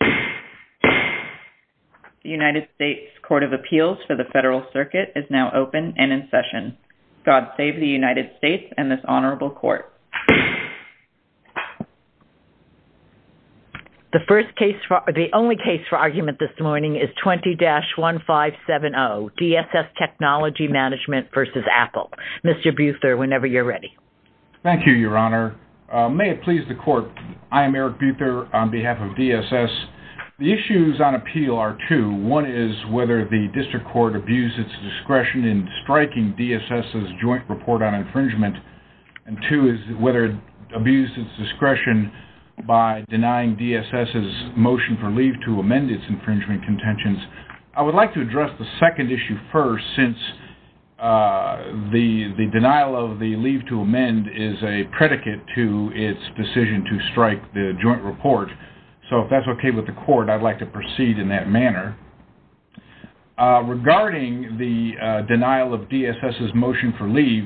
The United States Court of Appeals for the Federal Circuit is now open and in session. God save the United States and this honorable court. The only case for argument this morning is 20-1570, DSS Technology Management v. Apple. Mr. Buther, whenever you're ready. Thank you, Your Honor. May it please the court, I am Eric Buther on behalf of DSS. The issues on appeal are two. One is whether the district court abused its discretion in striking DSS's joint report on infringement. And two is whether it abused its discretion by denying DSS's motion for leave to amend its infringement contentions. I would like to address the second issue first since the denial of the leave to amend is a predicate to its decision to strike the joint report. So if that's okay with the court, I'd like to proceed in that manner. Regarding the denial of DSS's motion for leave,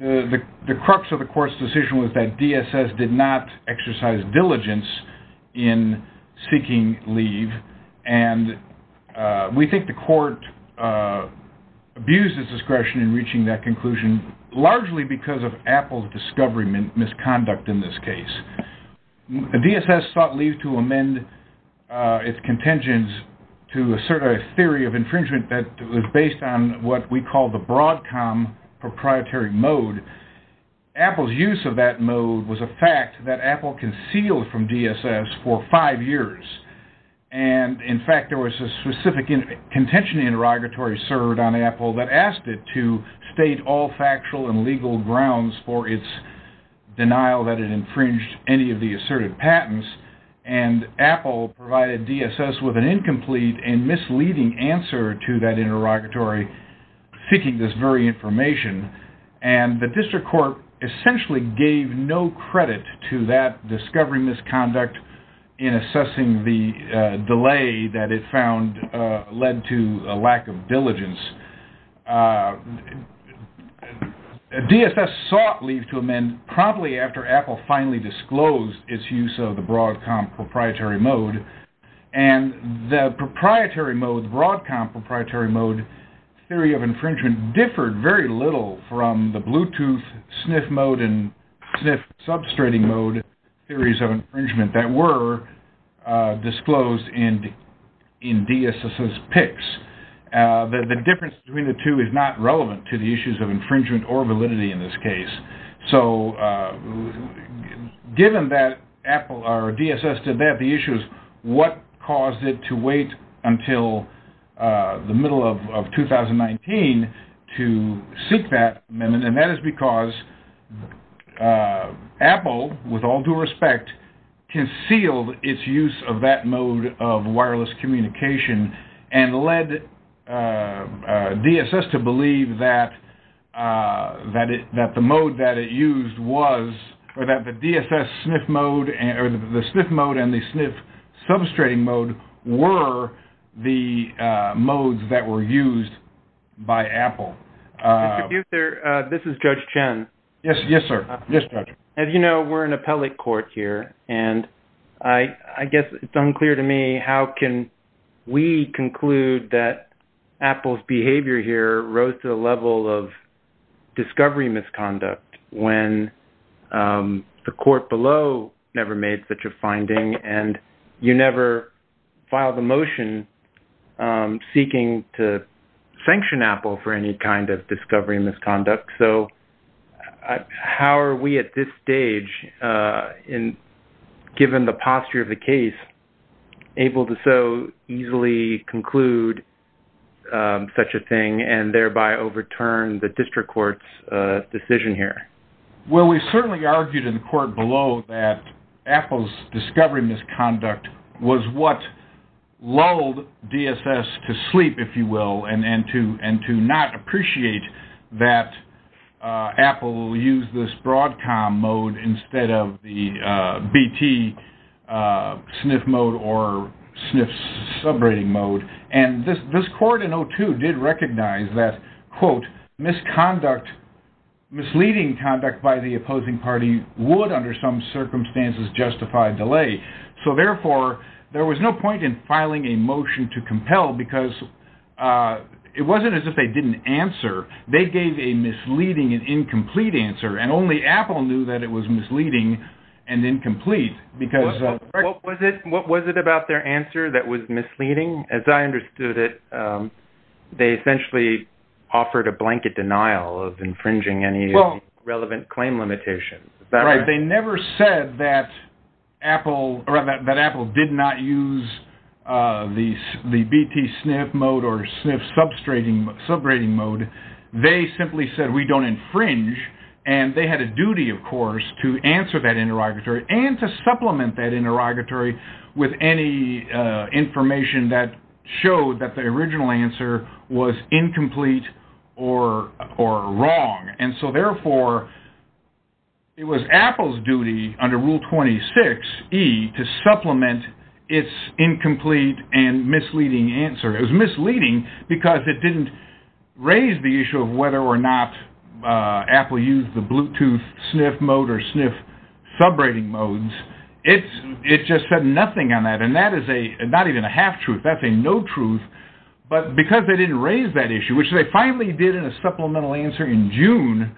the crux of the court's decision was that DSS did not exercise diligence in seeking leave. And we think the court abused its discretion in reaching that conclusion largely because of Apple's discovery misconduct in this case. DSS sought leave to amend its contentions to assert a theory of infringement that was based on what we call the Broadcom proprietary mode. Apple's use of that mode was a fact that Apple concealed from DSS for five years. And in fact, there was a specific contention interrogatory served on Apple that asked it to state all factual and legal grounds for its denial that it infringed any of the asserted patents. And Apple provided DSS with an incomplete and misleading answer to that interrogatory seeking this very information. And the district court essentially gave no credit to that discovery misconduct in assessing the delay that it found led to a lack of diligence. DSS sought leave to amend promptly after Apple finally disclosed its use of the Broadcom proprietary mode. And the proprietary mode, Broadcom proprietary mode theory of infringement differed very little from the Bluetooth sniff mode and sniff substrating mode theories of infringement that were disclosed in DSS's picks. The difference between the two is not relevant to the issues of infringement or validity in this case. So given that Apple or DSS did that, the issue is what caused it to wait until the middle of 2019 to seek that amendment. And that is because Apple, with all due respect, concealed its use of that mode of wireless communication and led DSS to believe that the mode that it used was or that the DSS sniff mode or the sniff mode and the sniff substrating mode were the modes that were used by Apple. This is Judge Chen. Yes, sir. Yes, Judge. As you know, we're in appellate court here. And I guess it's unclear to me how can we conclude that Apple's behavior here rose to the level of discovery misconduct when the court below never made such a finding and you never filed a motion seeking to sanction Apple for any kind of discovery misconduct. So how are we at this stage, given the posture of the case, able to so easily conclude such a thing and thereby overturn the district court's decision here? Well, we certainly argued in the court below that Apple's discovery misconduct was what lulled DSS to sleep, if you will, and to not appreciate that Apple used this Broadcom mode instead of the BT sniff mode or sniff subrating mode. And this court in 02 did recognize that, quote, misconduct, misleading conduct by the opposing party would, under some circumstances, justify delay. So, therefore, there was no point in filing a motion to compel because it wasn't as if they didn't answer. They gave a misleading and incomplete answer, and only Apple knew that it was misleading and incomplete. What was it about their answer that was misleading? As I understood it, they essentially offered a blanket denial of infringing any relevant claim limitations. Right. They never said that Apple did not use the BT sniff mode or sniff subrating mode. They simply said, we don't infringe. And they had a duty, of course, to answer that interrogatory and to supplement that interrogatory with any information that showed that the original answer was incomplete or wrong. And so, therefore, it was Apple's duty under Rule 26E to supplement its incomplete and misleading answer. It was misleading because it didn't raise the issue of whether or not Apple used the BT sniff mode or sniff subrating modes. It just said nothing on that. And that is not even a half-truth. That's a no-truth. But because they didn't raise that issue, which they finally did in a supplemental answer in June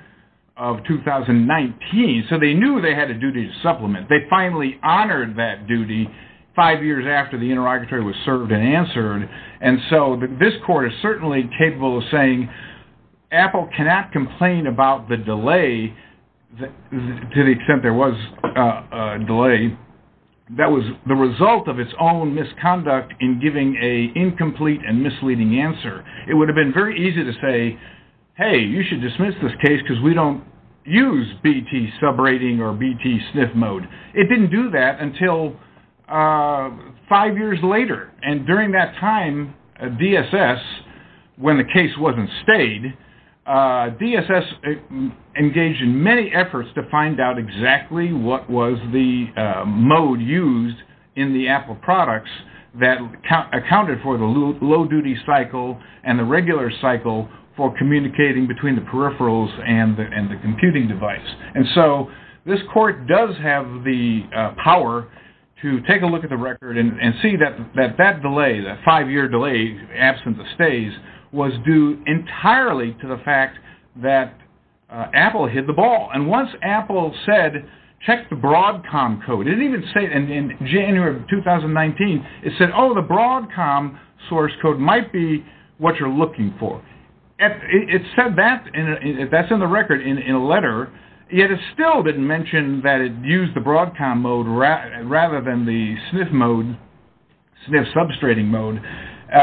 of 2019, so they knew they had a duty to supplement. They finally honored that duty five years after the interrogatory was served and answered. And so this court is certainly capable of saying Apple cannot complain about the delay, to the extent there was a delay, that was the result of its own misconduct in giving an incomplete and misleading answer. It would have been very easy to say, hey, you should dismiss this case because we don't use BT subrating or BT sniff mode. It didn't do that until five years later. And during that time, DSS, when the case wasn't stayed, DSS engaged in many efforts to find out exactly what was the mode used in the Apple products that accounted for the low-duty cycle and the regular cycle for communicating between the peripherals and the computing device. And so this court does have the power to take a look at the record and see that that delay, that five-year delay, absence of stays, was due entirely to the fact that Apple hit the ball. And once Apple said, check the Broadcom code, it didn't even say in January of 2019, it said, oh, the Broadcom source code might be what you're looking for. It said that, and that's in the record in a letter, yet it still didn't mention that it used the Broadcom mode rather than the sniff mode, sniff substrating mode.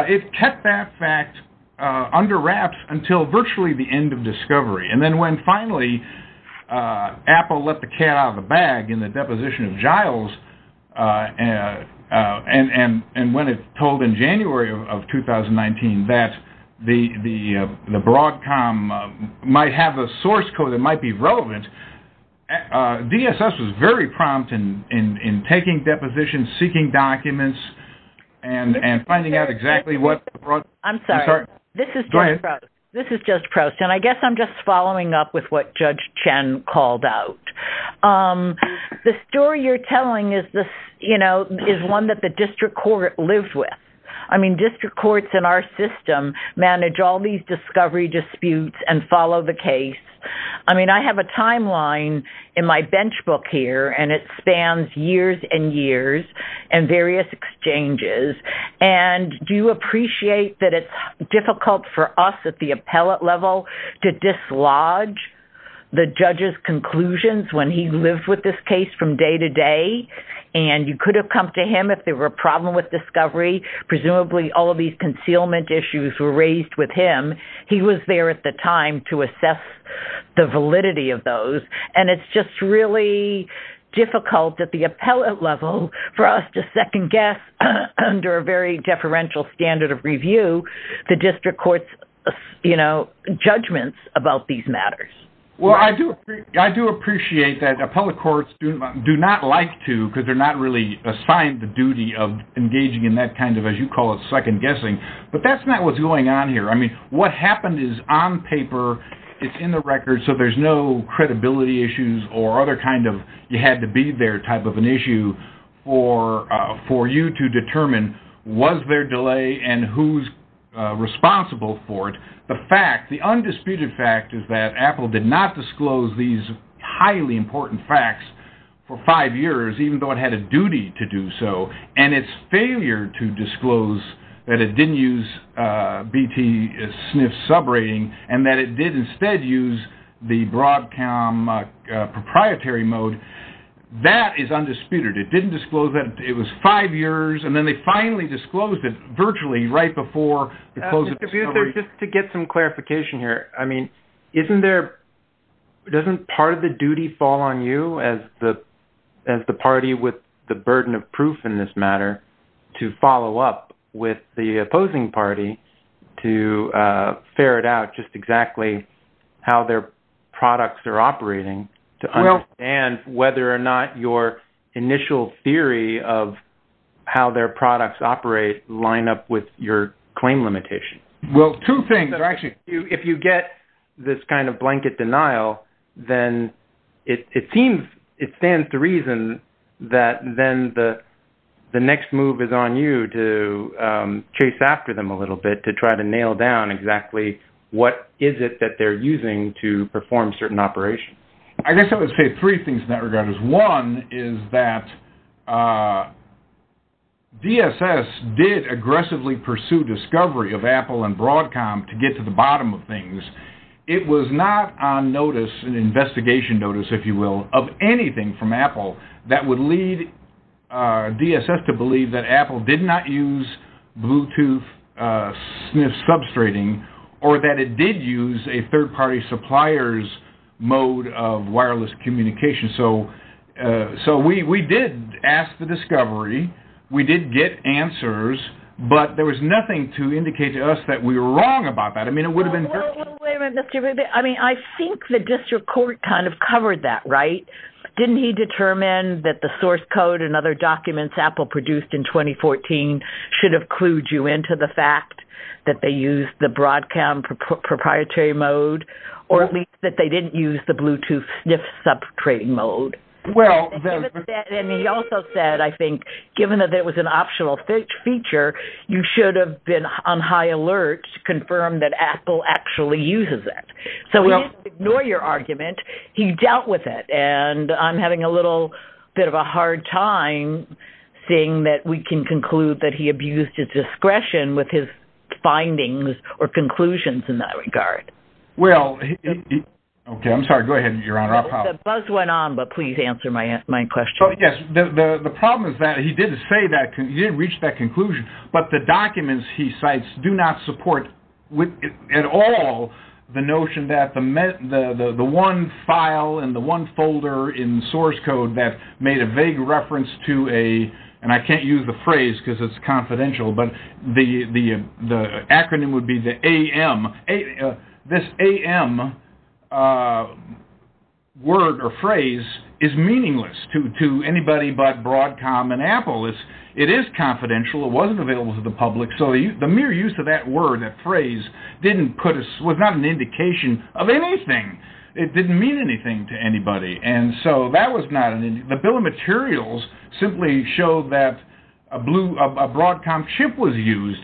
It kept that fact under wraps until virtually the end of discovery. And then when finally Apple let the cat out of the bag in the deposition of Giles, and when it told in January of 2019 that the Broadcom might have a source code that might be relevant, DSS was very prompt in taking depositions, seeking documents, and finding out exactly what the Broadcom… This is Judge Proust, and I guess I'm just following up with what Judge Chen called out. The story you're telling is one that the district court lives with. I mean, district courts in our system manage all these discovery disputes and follow the case. I mean, I have a timeline in my bench book here, and it spans years and years and various exchanges. And do you appreciate that it's difficult for us at the appellate level to dislodge the judge's conclusions when he lived with this case from day to day? And you could have come to him if there were a problem with discovery. Presumably, all of these concealment issues were raised with him. He was there at the time to assess the validity of those. And it's just really difficult at the appellate level for us to second-guess under a very deferential standard of review the district court's judgments about these matters. Well, I do appreciate that appellate courts do not like to because they're not really assigned the duty of engaging in that kind of, as you call it, second-guessing. But that's not what's going on here. I mean, what happened is on paper, it's in the records, so there's no credibility issues or other kind of you-had-to-be-there type of an issue for you to determine was there delay and who's responsible for it. The fact, the undisputed fact is that Apple did not disclose these highly important facts for five years, even though it had a duty to do so. And its failure to disclose that it didn't use BT-SNF subrating and that it did instead use the Broadcom proprietary mode, that is undisputed. It didn't disclose that it was five years, and then they finally disclosed it virtually right before the close of discovery. Just to get some clarification here, I mean, doesn't part of the duty fall on you as the party with the burden of proof in this matter to follow up with the opposing party to ferret out just exactly how their products are operating to understand whether or not your initial theory of how their products operate line up with your claim limitation? Well, two things, actually. If you get this kind of blanket denial, then it seems it stands to reason that then the next move is on you to chase after them a little bit to try to nail down exactly what is it that they're using to perform certain operations. I guess I would say three things in that regard is one is that DSS did aggressively pursue discovery of Apple and Broadcom to get to the bottom of things. It was not on notice, an investigation notice, if you will, of anything from Apple that would lead DSS to believe that Apple did not use Bluetooth-SNF substrating or that it did use a third-party supplier's mode of wireless communication. So we did ask for discovery. We did get answers, but there was nothing to indicate to us that we were wrong about that. I think the district court kind of covered that, right? Didn't he determine that the source code and other documents Apple produced in 2014 should have clued you into the fact that they used the Broadcom proprietary mode or at least that they didn't use the Bluetooth-SNF substrating mode? And he also said, I think, given that it was an optional feature, you should have been on high alert to confirm that Apple actually uses it. So we didn't ignore your argument. He dealt with it, and I'm having a little bit of a hard time seeing that we can conclude that he abused his discretion with his findings or conclusions in that regard. Okay, I'm sorry. Go ahead, Your Honor. The buzz went on, but please answer my question. Oh, yes. The problem is that he did say that he had reached that conclusion, but the documents he cites do not support at all the notion that the one file and the one folder in the source code that made a vague reference to a – and I can't use the phrase because it's confidential, but the acronym would be the AM. This AM word or phrase is meaningless to anybody but Broadcom and Apple. It is confidential. It wasn't available to the public. So the mere use of that word, that phrase, didn't put a – was not an indication of anything. It didn't mean anything to anybody. And so that was not an – the bill of materials simply showed that a Broadcom chip was used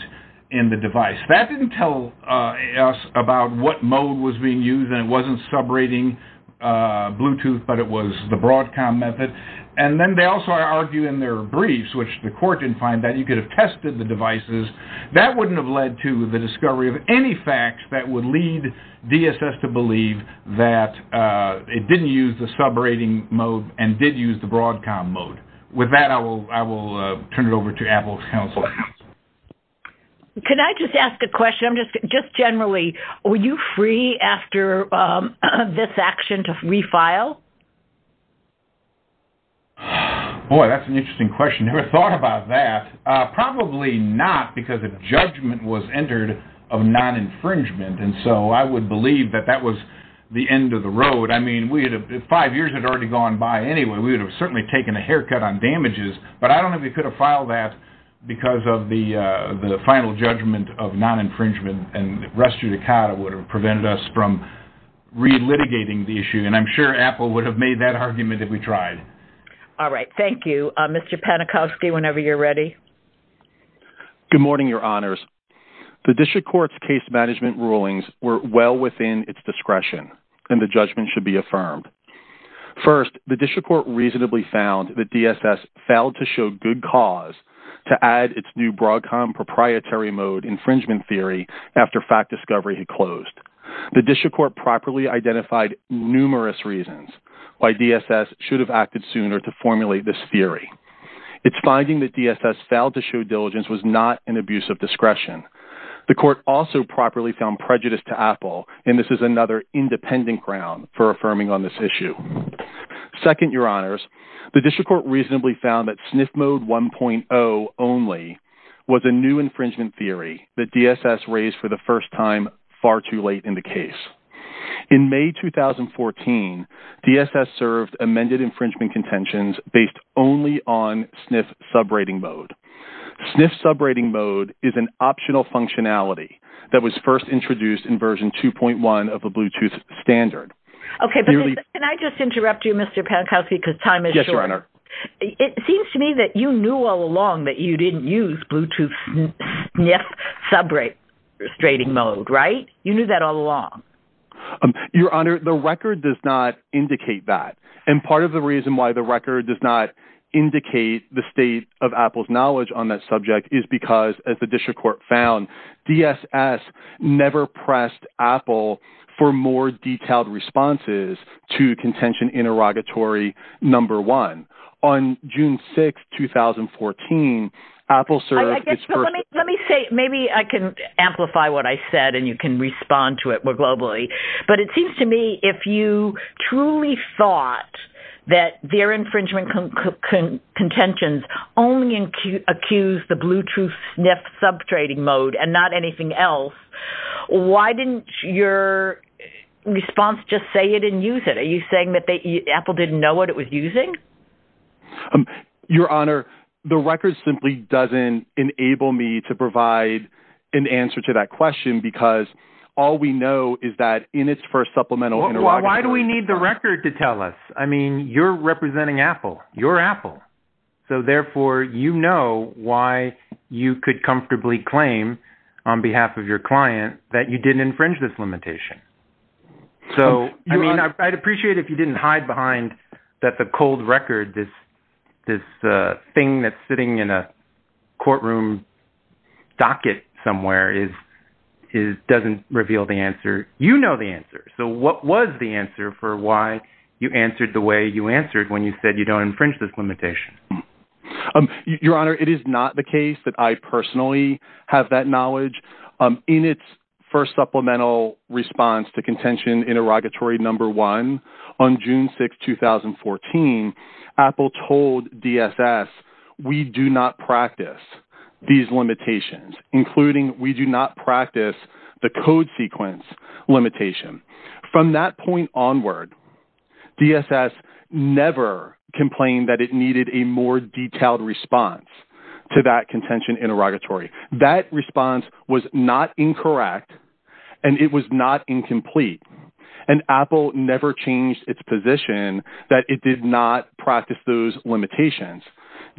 in the device. That didn't tell us about what mode was being used, and it wasn't subrating Bluetooth, but it was the Broadcom method. And then they also argue in their briefs, which the court didn't find that you could have tested the devices. That wouldn't have led to the discovery of any facts that would lead DSS to believe that it didn't use the subrating mode and did use the Broadcom mode. With that, I will turn it over to Apple's counsel. Can I just ask a question? Just generally, were you free after this action to refile? Boy, that's an interesting question. Never thought about that. Probably not because a judgment was entered of non-infringement, and so I would believe that that was the end of the road. I mean, five years had already gone by anyway. We would have certainly taken a haircut on damages, but I don't think we could have filed that because of the final judgment of non-infringement, and res judicata would have prevented us from re-litigating the issue. And I'm sure Apple would have made that argument if we tried. All right. Thank you. Mr. Panikowski, whenever you're ready. Good morning, Your Honors. The district court's case management rulings were well within its discretion, and the judgment should be affirmed. First, the district court reasonably found that DSS failed to show good cause to add its new Broadcom proprietary mode infringement theory after fact discovery had closed. The district court properly identified numerous reasons why DSS should have acted sooner to formulate this theory. Its finding that DSS failed to show diligence was not an abuse of discretion. The court also properly found prejudice to Apple, and this is another independent ground for affirming on this issue. Second, Your Honors, the district court reasonably found that SNF mode 1.0 only was a new infringement theory that DSS raised for the first time far too late in the case. In May 2014, DSS served amended infringement contentions based only on SNF subrating mode. SNF subrating mode is an optional functionality that was first introduced in version 2.1 of the Bluetooth standard. Okay, but can I just interrupt you, Mr. Panikowski, because time is short. Yes, Your Honor. It seems to me that you knew all along that you didn't use Bluetooth SNF subrating mode, right? You knew that all along. Your Honor, the record does not indicate that. And part of the reason why the record does not indicate the state of Apple's knowledge on that subject is because, as the district court found, DSS never pressed Apple for more detailed responses to contention interrogatory number one. On June 6, 2014, Apple served its first… …that their infringement contentions only accused the Bluetooth SNF subrating mode and not anything else. Why didn't your response just say you didn't use it? Are you saying that Apple didn't know what it was using? Your Honor, the record simply doesn't enable me to provide an answer to that question because all we know is that in its first supplemental interrogation… Why do we need the record to tell us? I mean, you're representing Apple. You're Apple. So, therefore, you know why you could comfortably claim on behalf of your client that you didn't infringe this limitation. So, I mean, I'd appreciate it if you didn't hide behind that the cold record, this thing that's sitting in a courtroom docket somewhere doesn't reveal the answer. You know the answer. So, what was the answer for why you answered the way you answered when you said you don't infringe this limitation? Your Honor, it is not the case that I personally have that knowledge. In its first supplemental response to contention interrogatory number one on June 6, 2014, Apple told DSS, we do not practice these limitations, including we do not practice the code sequence limitation. From that point onward, DSS never complained that it needed a more detailed response to that contention interrogatory. That response was not incorrect, and it was not incomplete, and Apple never changed its position that it did not practice those limitations.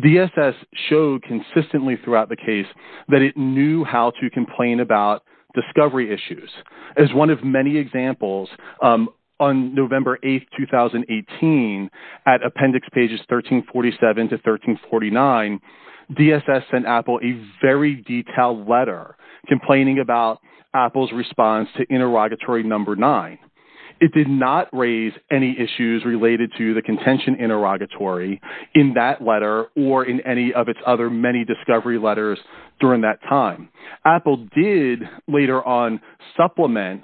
DSS showed consistently throughout the case that it knew how to complain about discovery issues. As one of many examples, on November 8, 2018, at appendix pages 1347 to 1349, DSS sent Apple a very detailed letter complaining about Apple's response to interrogatory number nine. It did not raise any issues related to the contention interrogatory in that letter or in any of its other many discovery letters during that time. Apple did later on supplement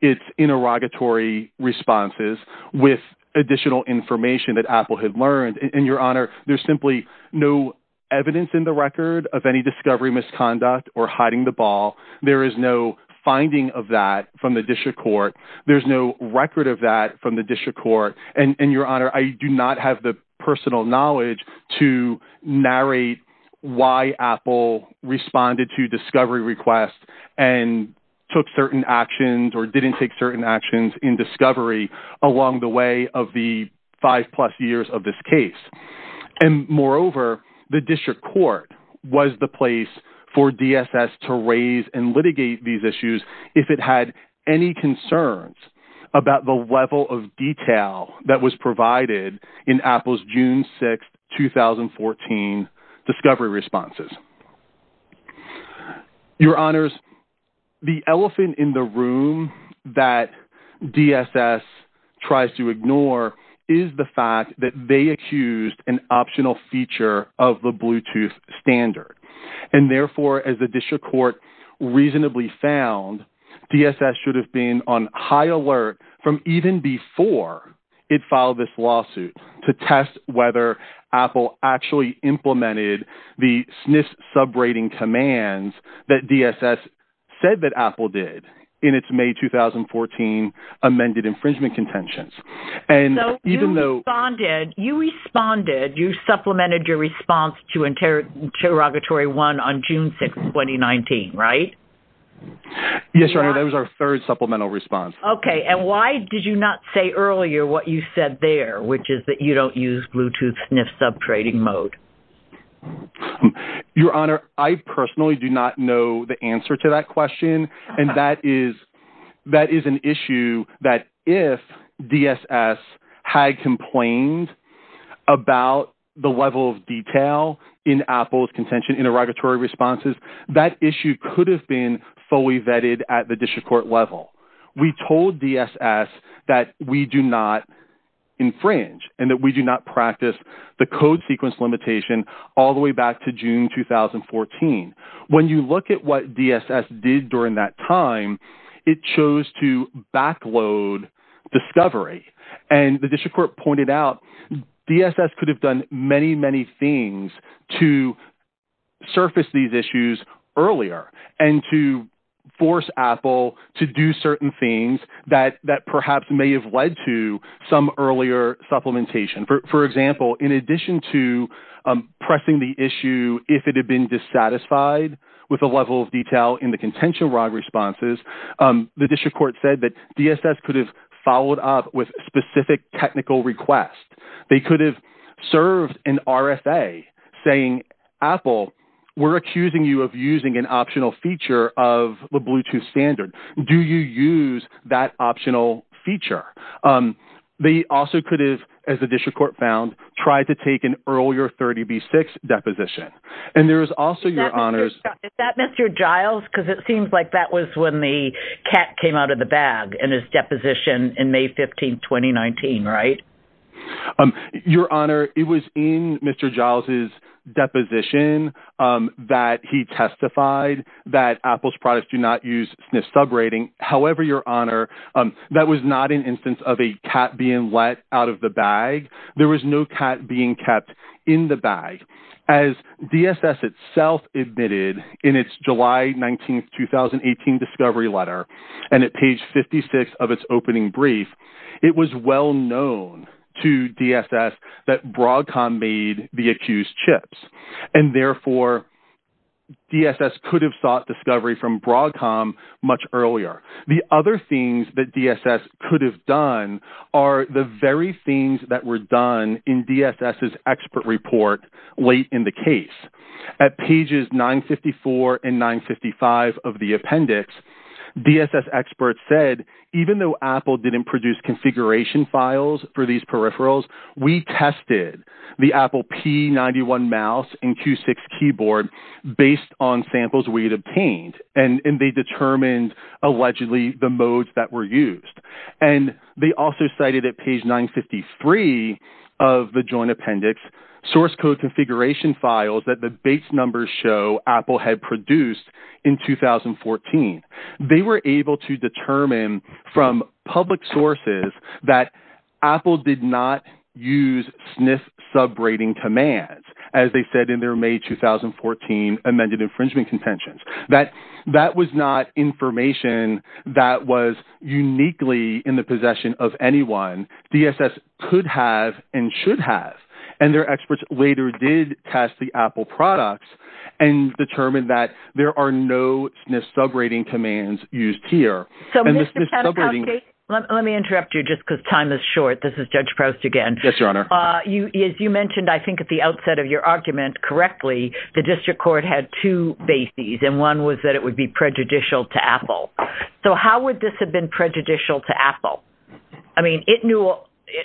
its interrogatory responses with additional information that Apple had learned. Your Honor, there's simply no evidence in the record of any discovery misconduct or hiding the ball. There is no finding of that from the district court. There's no record of that from the district court. Your Honor, I do not have the personal knowledge to narrate why Apple responded to discovery requests and took certain actions or didn't take certain actions in discovery along the way of the five plus years of this case. Moreover, the district court was the place for DSS to raise and litigate these issues if it had any concerns about the level of detail that was provided in Apple's June 6, 2014 discovery responses. Your Honors, the elephant in the room that DSS tries to ignore is the fact that they accused an optional feature of the Bluetooth standard. And therefore, as the district court reasonably found, DSS should have been on high alert from even before it filed this lawsuit to test whether Apple actually implemented the SNF sub rating commands that DSS said that Apple did in its May 2014 amended infringement contentions. So, you responded, you supplemented your response to interrogatory one on June 6, 2019, right? Yes, Your Honor, that was our third supplemental response. Okay, and why did you not say earlier what you said there, which is that you don't use Bluetooth SNF sub rating mode? Your Honor, I personally do not know the answer to that question. And that is an issue that if DSS had complained about the level of detail in Apple's contention interrogatory responses, that issue could have been fully vetted at the district court level. We told DSS that we do not infringe and that we do not practice the code sequence limitation all the way back to June 2014. When you look at what DSS did during that time, it chose to back load discovery. And the district court pointed out DSS could have done many, many things to surface these issues earlier and to force Apple to do certain things that perhaps may have led to some earlier supplementation. For example, in addition to pressing the issue if it had been dissatisfied with the level of detail in the contention wrong responses, the district court said that DSS could have followed up with specific technical requests. They could have served an RFA saying, Apple, we're accusing you of using an optional feature of the Bluetooth standard. Do you use that optional feature? They also could have, as the district court found, tried to take an earlier 30B6 deposition. Is that Mr. Giles? Because it seems like that was when the cat came out of the bag in his deposition in May 15, 2019, right? Your Honor, it was in Mr. Giles' deposition that he testified that Apple's products do not use SNF subrating. However, Your Honor, that was not an instance of a cat being let out of the bag. There was no cat being kept in the bag. As DSS itself admitted in its July 19, 2018 discovery letter and at page 56 of its opening brief, it was well known to DSS that Broadcom made the accused chips. And therefore, DSS could have sought discovery from Broadcom much earlier. The other things that DSS could have done are the very things that were done in DSS's expert report late in the case. At pages 954 and 955 of the appendix, DSS experts said, even though Apple didn't produce configuration files for these peripherals, we tested the Apple P91 mouse and Q6 keyboard based on samples we had obtained. And they determined, allegedly, the modes that were used. And they also cited at page 953 of the joint appendix source code configuration files that the base numbers show Apple had produced in 2014. They were able to determine from public sources that Apple did not use SNF subrating commands, as they said in their May 2014 amended infringement contentions. That was not information that was uniquely in the possession of anyone DSS could have and should have. And their experts later did test the Apple products and determined that there are no SNF subrating commands used here. Let me interrupt you just because time is short. This is Judge Proust again. Yes, Your Honor. As you mentioned, I think, at the outset of your argument correctly, the district court had two bases. And one was that it would be prejudicial to Apple. So how would this have been prejudicial to Apple? I mean, it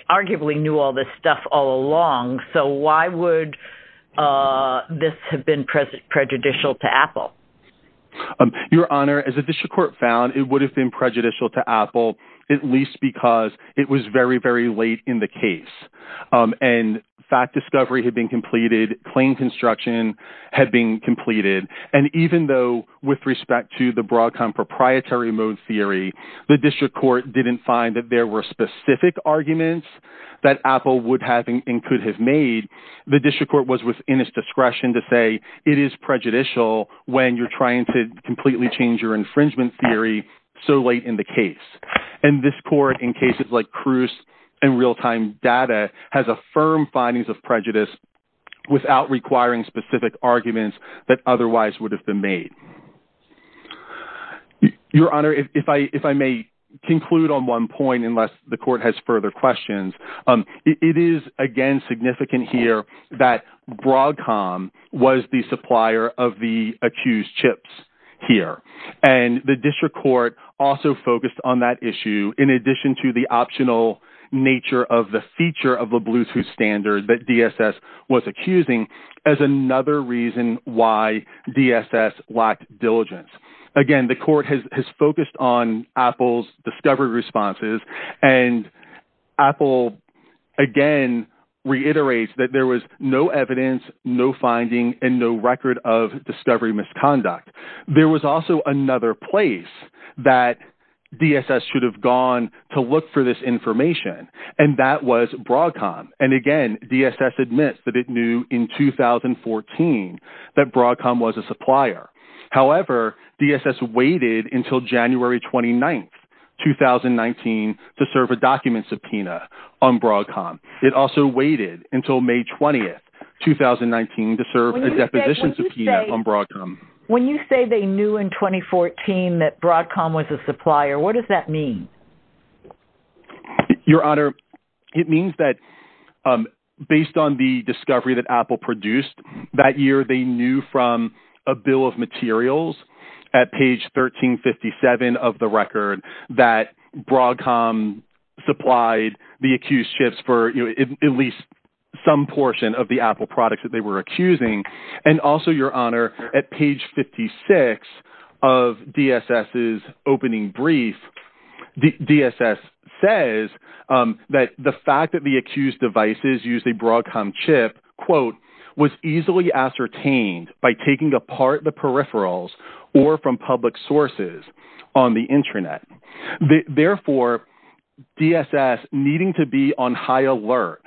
arguably knew all this stuff all along. So why would this have been prejudicial to Apple? Your Honor, as the district court found, it would have been prejudicial to Apple, at least because it was very, very late in the case. And fact discovery had been completed. Claim construction had been completed. And even though, with respect to the Broadcom proprietary mode theory, the district court didn't find that there were specific arguments that Apple would have and could have made, the district court was within its discretion to say it is prejudicial when you're trying to completely change your infringement theory so late in the case. And this court, in cases like Cruz and real-time data, has affirmed findings of prejudice without requiring specific arguments that otherwise would have been made. Your Honor, if I may conclude on one point, unless the court has further questions, it is, again, significant here that Broadcom was the supplier of the accused chips here. And the district court also focused on that issue in addition to the optional nature of the feature of the Bluetooth standard that DSS was accusing as another reason why DSS lacked diligence. Again, the court has focused on Apple's discovery responses, and Apple, again, reiterates that there was no evidence, no finding, and no record of discovery misconduct. There was also another place that DSS should have gone to look for this information, and that was Broadcom. And again, DSS admits that it knew in 2014 that Broadcom was a supplier. However, DSS waited until January 29, 2019, to serve a document subpoena on Broadcom. It also waited until May 20, 2019, to serve a deposition subpoena on Broadcom. When you say they knew in 2014 that Broadcom was a supplier, what does that mean? Your Honor, it means that based on the discovery that Apple produced that year, they knew from a bill of materials at page 1357 of the record that Broadcom supplied the accused chips for at least some portion of the Apple products that they were accusing. And also, Your Honor, at page 56 of DSS's opening brief, DSS says that the fact that the accused devices used a Broadcom chip, quote, was easily ascertained by taking apart the peripherals or from public sources on the internet. Therefore, DSS needing to be on high alert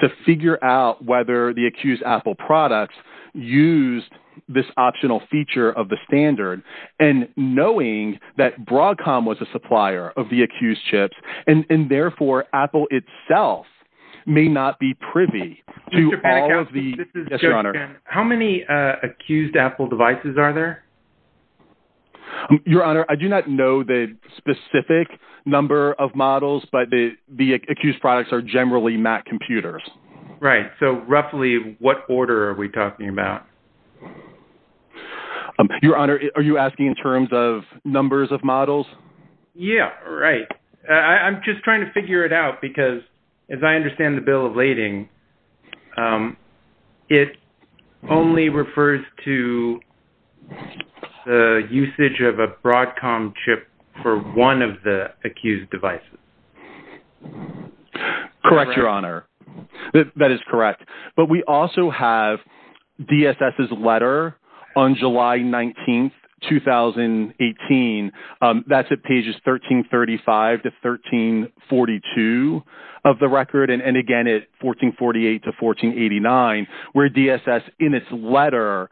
to figure out whether the accused Apple products used this optional feature of the standard, and knowing that Broadcom was a supplier of the accused chips, and therefore Apple itself may not be privy to all of the… How many accused Apple devices are there? Your Honor, I do not know the specific number of models, but the accused products are generally Mac computers. Right, so roughly what order are we talking about? Your Honor, are you asking in terms of numbers of models? Yeah, right. I'm just trying to figure it out because as I understand the bill of lading, it only refers to the usage of a Broadcom chip for one of the accused devices. Correct, Your Honor. That is correct. But we also have DSS's letter on July 19, 2018. That's at pages 1335 to 1342 of the record, and again at 1448 to 1489, where DSS in its letter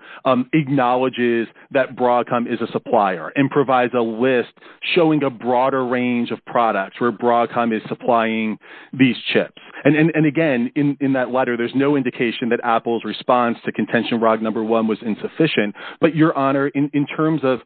acknowledges that Broadcom is a supplier and provides a list showing a broader range of products where Broadcom is supplying these chips. And again, in that letter, there's no indication that Apple's response to contention fraud number one was insufficient, but Your Honor, in terms of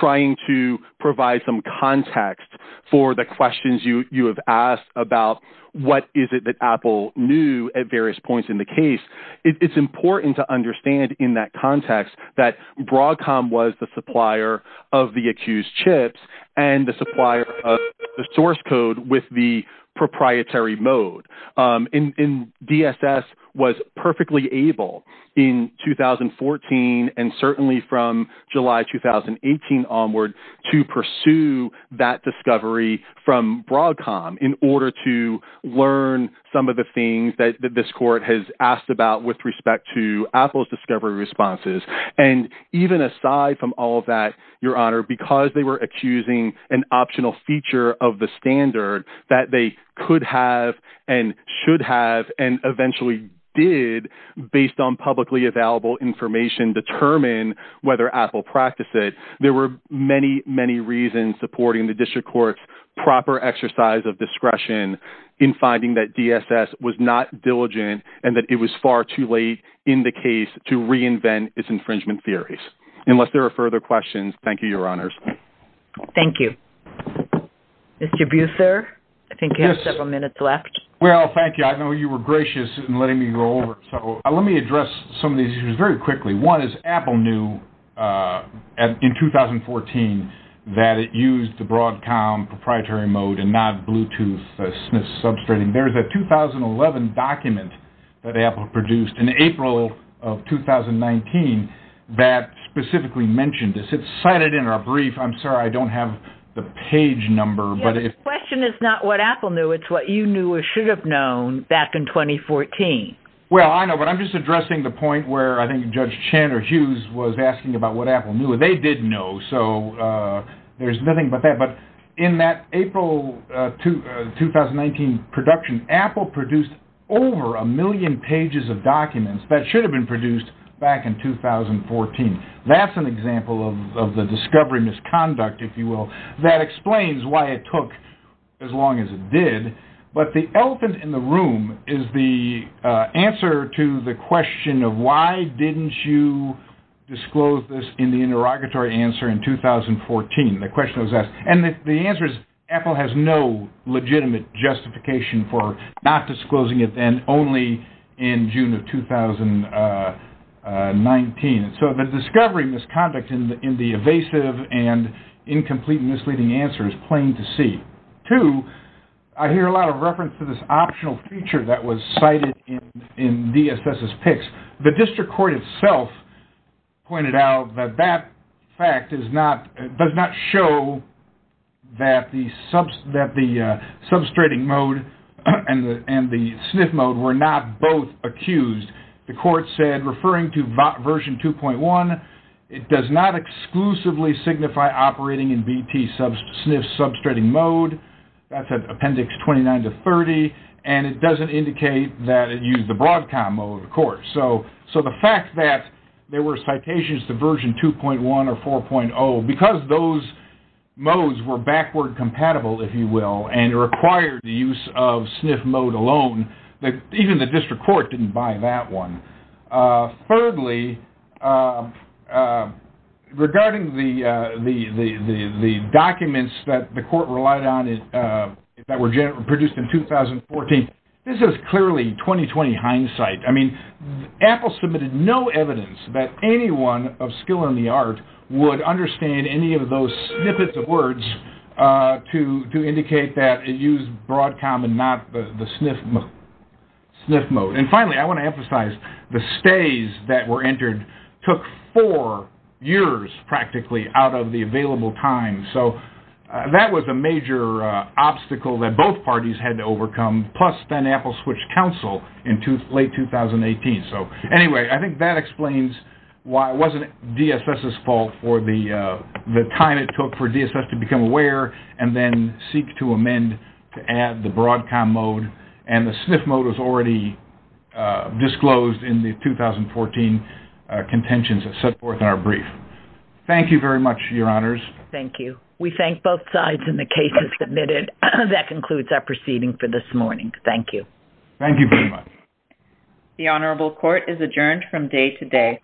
trying to provide some context for the questions you have asked about what is it that Apple knew at various points in the case, it's important to understand in that context that Broadcom was the supplier of the accused chips and the supplier of the source code with the proprietary mode. And DSS was perfectly able in 2014 and certainly from July 2018 onward to pursue that discovery from Broadcom in order to learn some of the things that this court has asked about with respect to Apple's discovery responses. And even aside from all of that, Your Honor, because they were accusing an optional feature of the standard that they could have and should have and eventually did based on publicly available information determine whether Apple practiced it, there were many, many reasons supporting the district court's proper exercise of discretion in finding that DSS was not diligent and that it was far too late in the case to reinvent itself. Unless there are further questions, thank you, Your Honors. Thank you. Mr. Busser, I think you have several minutes left. Well, thank you. I know you were gracious in letting me roll over. So let me address some of these issues very quickly. One is Apple knew in 2014 that it used the Broadcom proprietary mode and not Bluetooth. There's a 2011 document that Apple produced in April of 2019 that specifically mentioned this. It's cited in our brief. I'm sorry, I don't have the page number. The question is not what Apple knew. It's what you knew or should have known back in 2014. Well, I know. But I'm just addressing the point where I think Judge Chan or Hughes was asking about what Apple knew. They did know. So there's nothing but that. But in that April 2019 production, Apple produced over a million pages of documents that should have been produced back in 2014. That's an example of the discovery misconduct, if you will. That explains why it took as long as it did. But the elephant in the room is the answer to the question of why didn't you disclose this in the interrogatory answer in 2014. The question was asked. And the answer is Apple has no legitimate justification for not disclosing it then only in June of 2019. So the discovery misconduct in the evasive and incomplete misleading answer is plain to see. Two, I hear a lot of reference to this optional feature that was cited in DSS's picks. The district court itself pointed out that that fact does not show that the substrating mode and the SNF mode were not both accused. The court said, referring to version 2.1, it does not exclusively signify operating in BT SNF substrating mode. That's at appendix 29 to 30. And it doesn't indicate that it used the Broadcom mode, of course. So the fact that there were citations to version 2.1 or 4.0, because those modes were backward compatible, if you will, and required the use of SNF mode alone, even the district court didn't buy that one. Thirdly, regarding the documents that the court relied on that were produced in 2014, this is clearly 2020 hindsight. I mean, Apple submitted no evidence that anyone of skill in the art would understand any of those snippets of words to indicate that it used Broadcom and not the SNF mode. And finally, I want to emphasize, the stays that were entered took four years, practically, out of the available time. So that was a major obstacle that both parties had to overcome, plus then Apple switched counsel in late 2018. So anyway, I think that explains why it wasn't DSS's fault for the time it took for DSS to become aware and then seek to amend to add the Broadcom mode. And the SNF mode was already disclosed in the 2014 contentions that set forth in our brief. Thank you very much, Your Honors. Thank you. We thank both sides and the cases submitted. That concludes our proceeding for this morning. Thank you. Thank you very much. The Honorable Court is adjourned from day to day.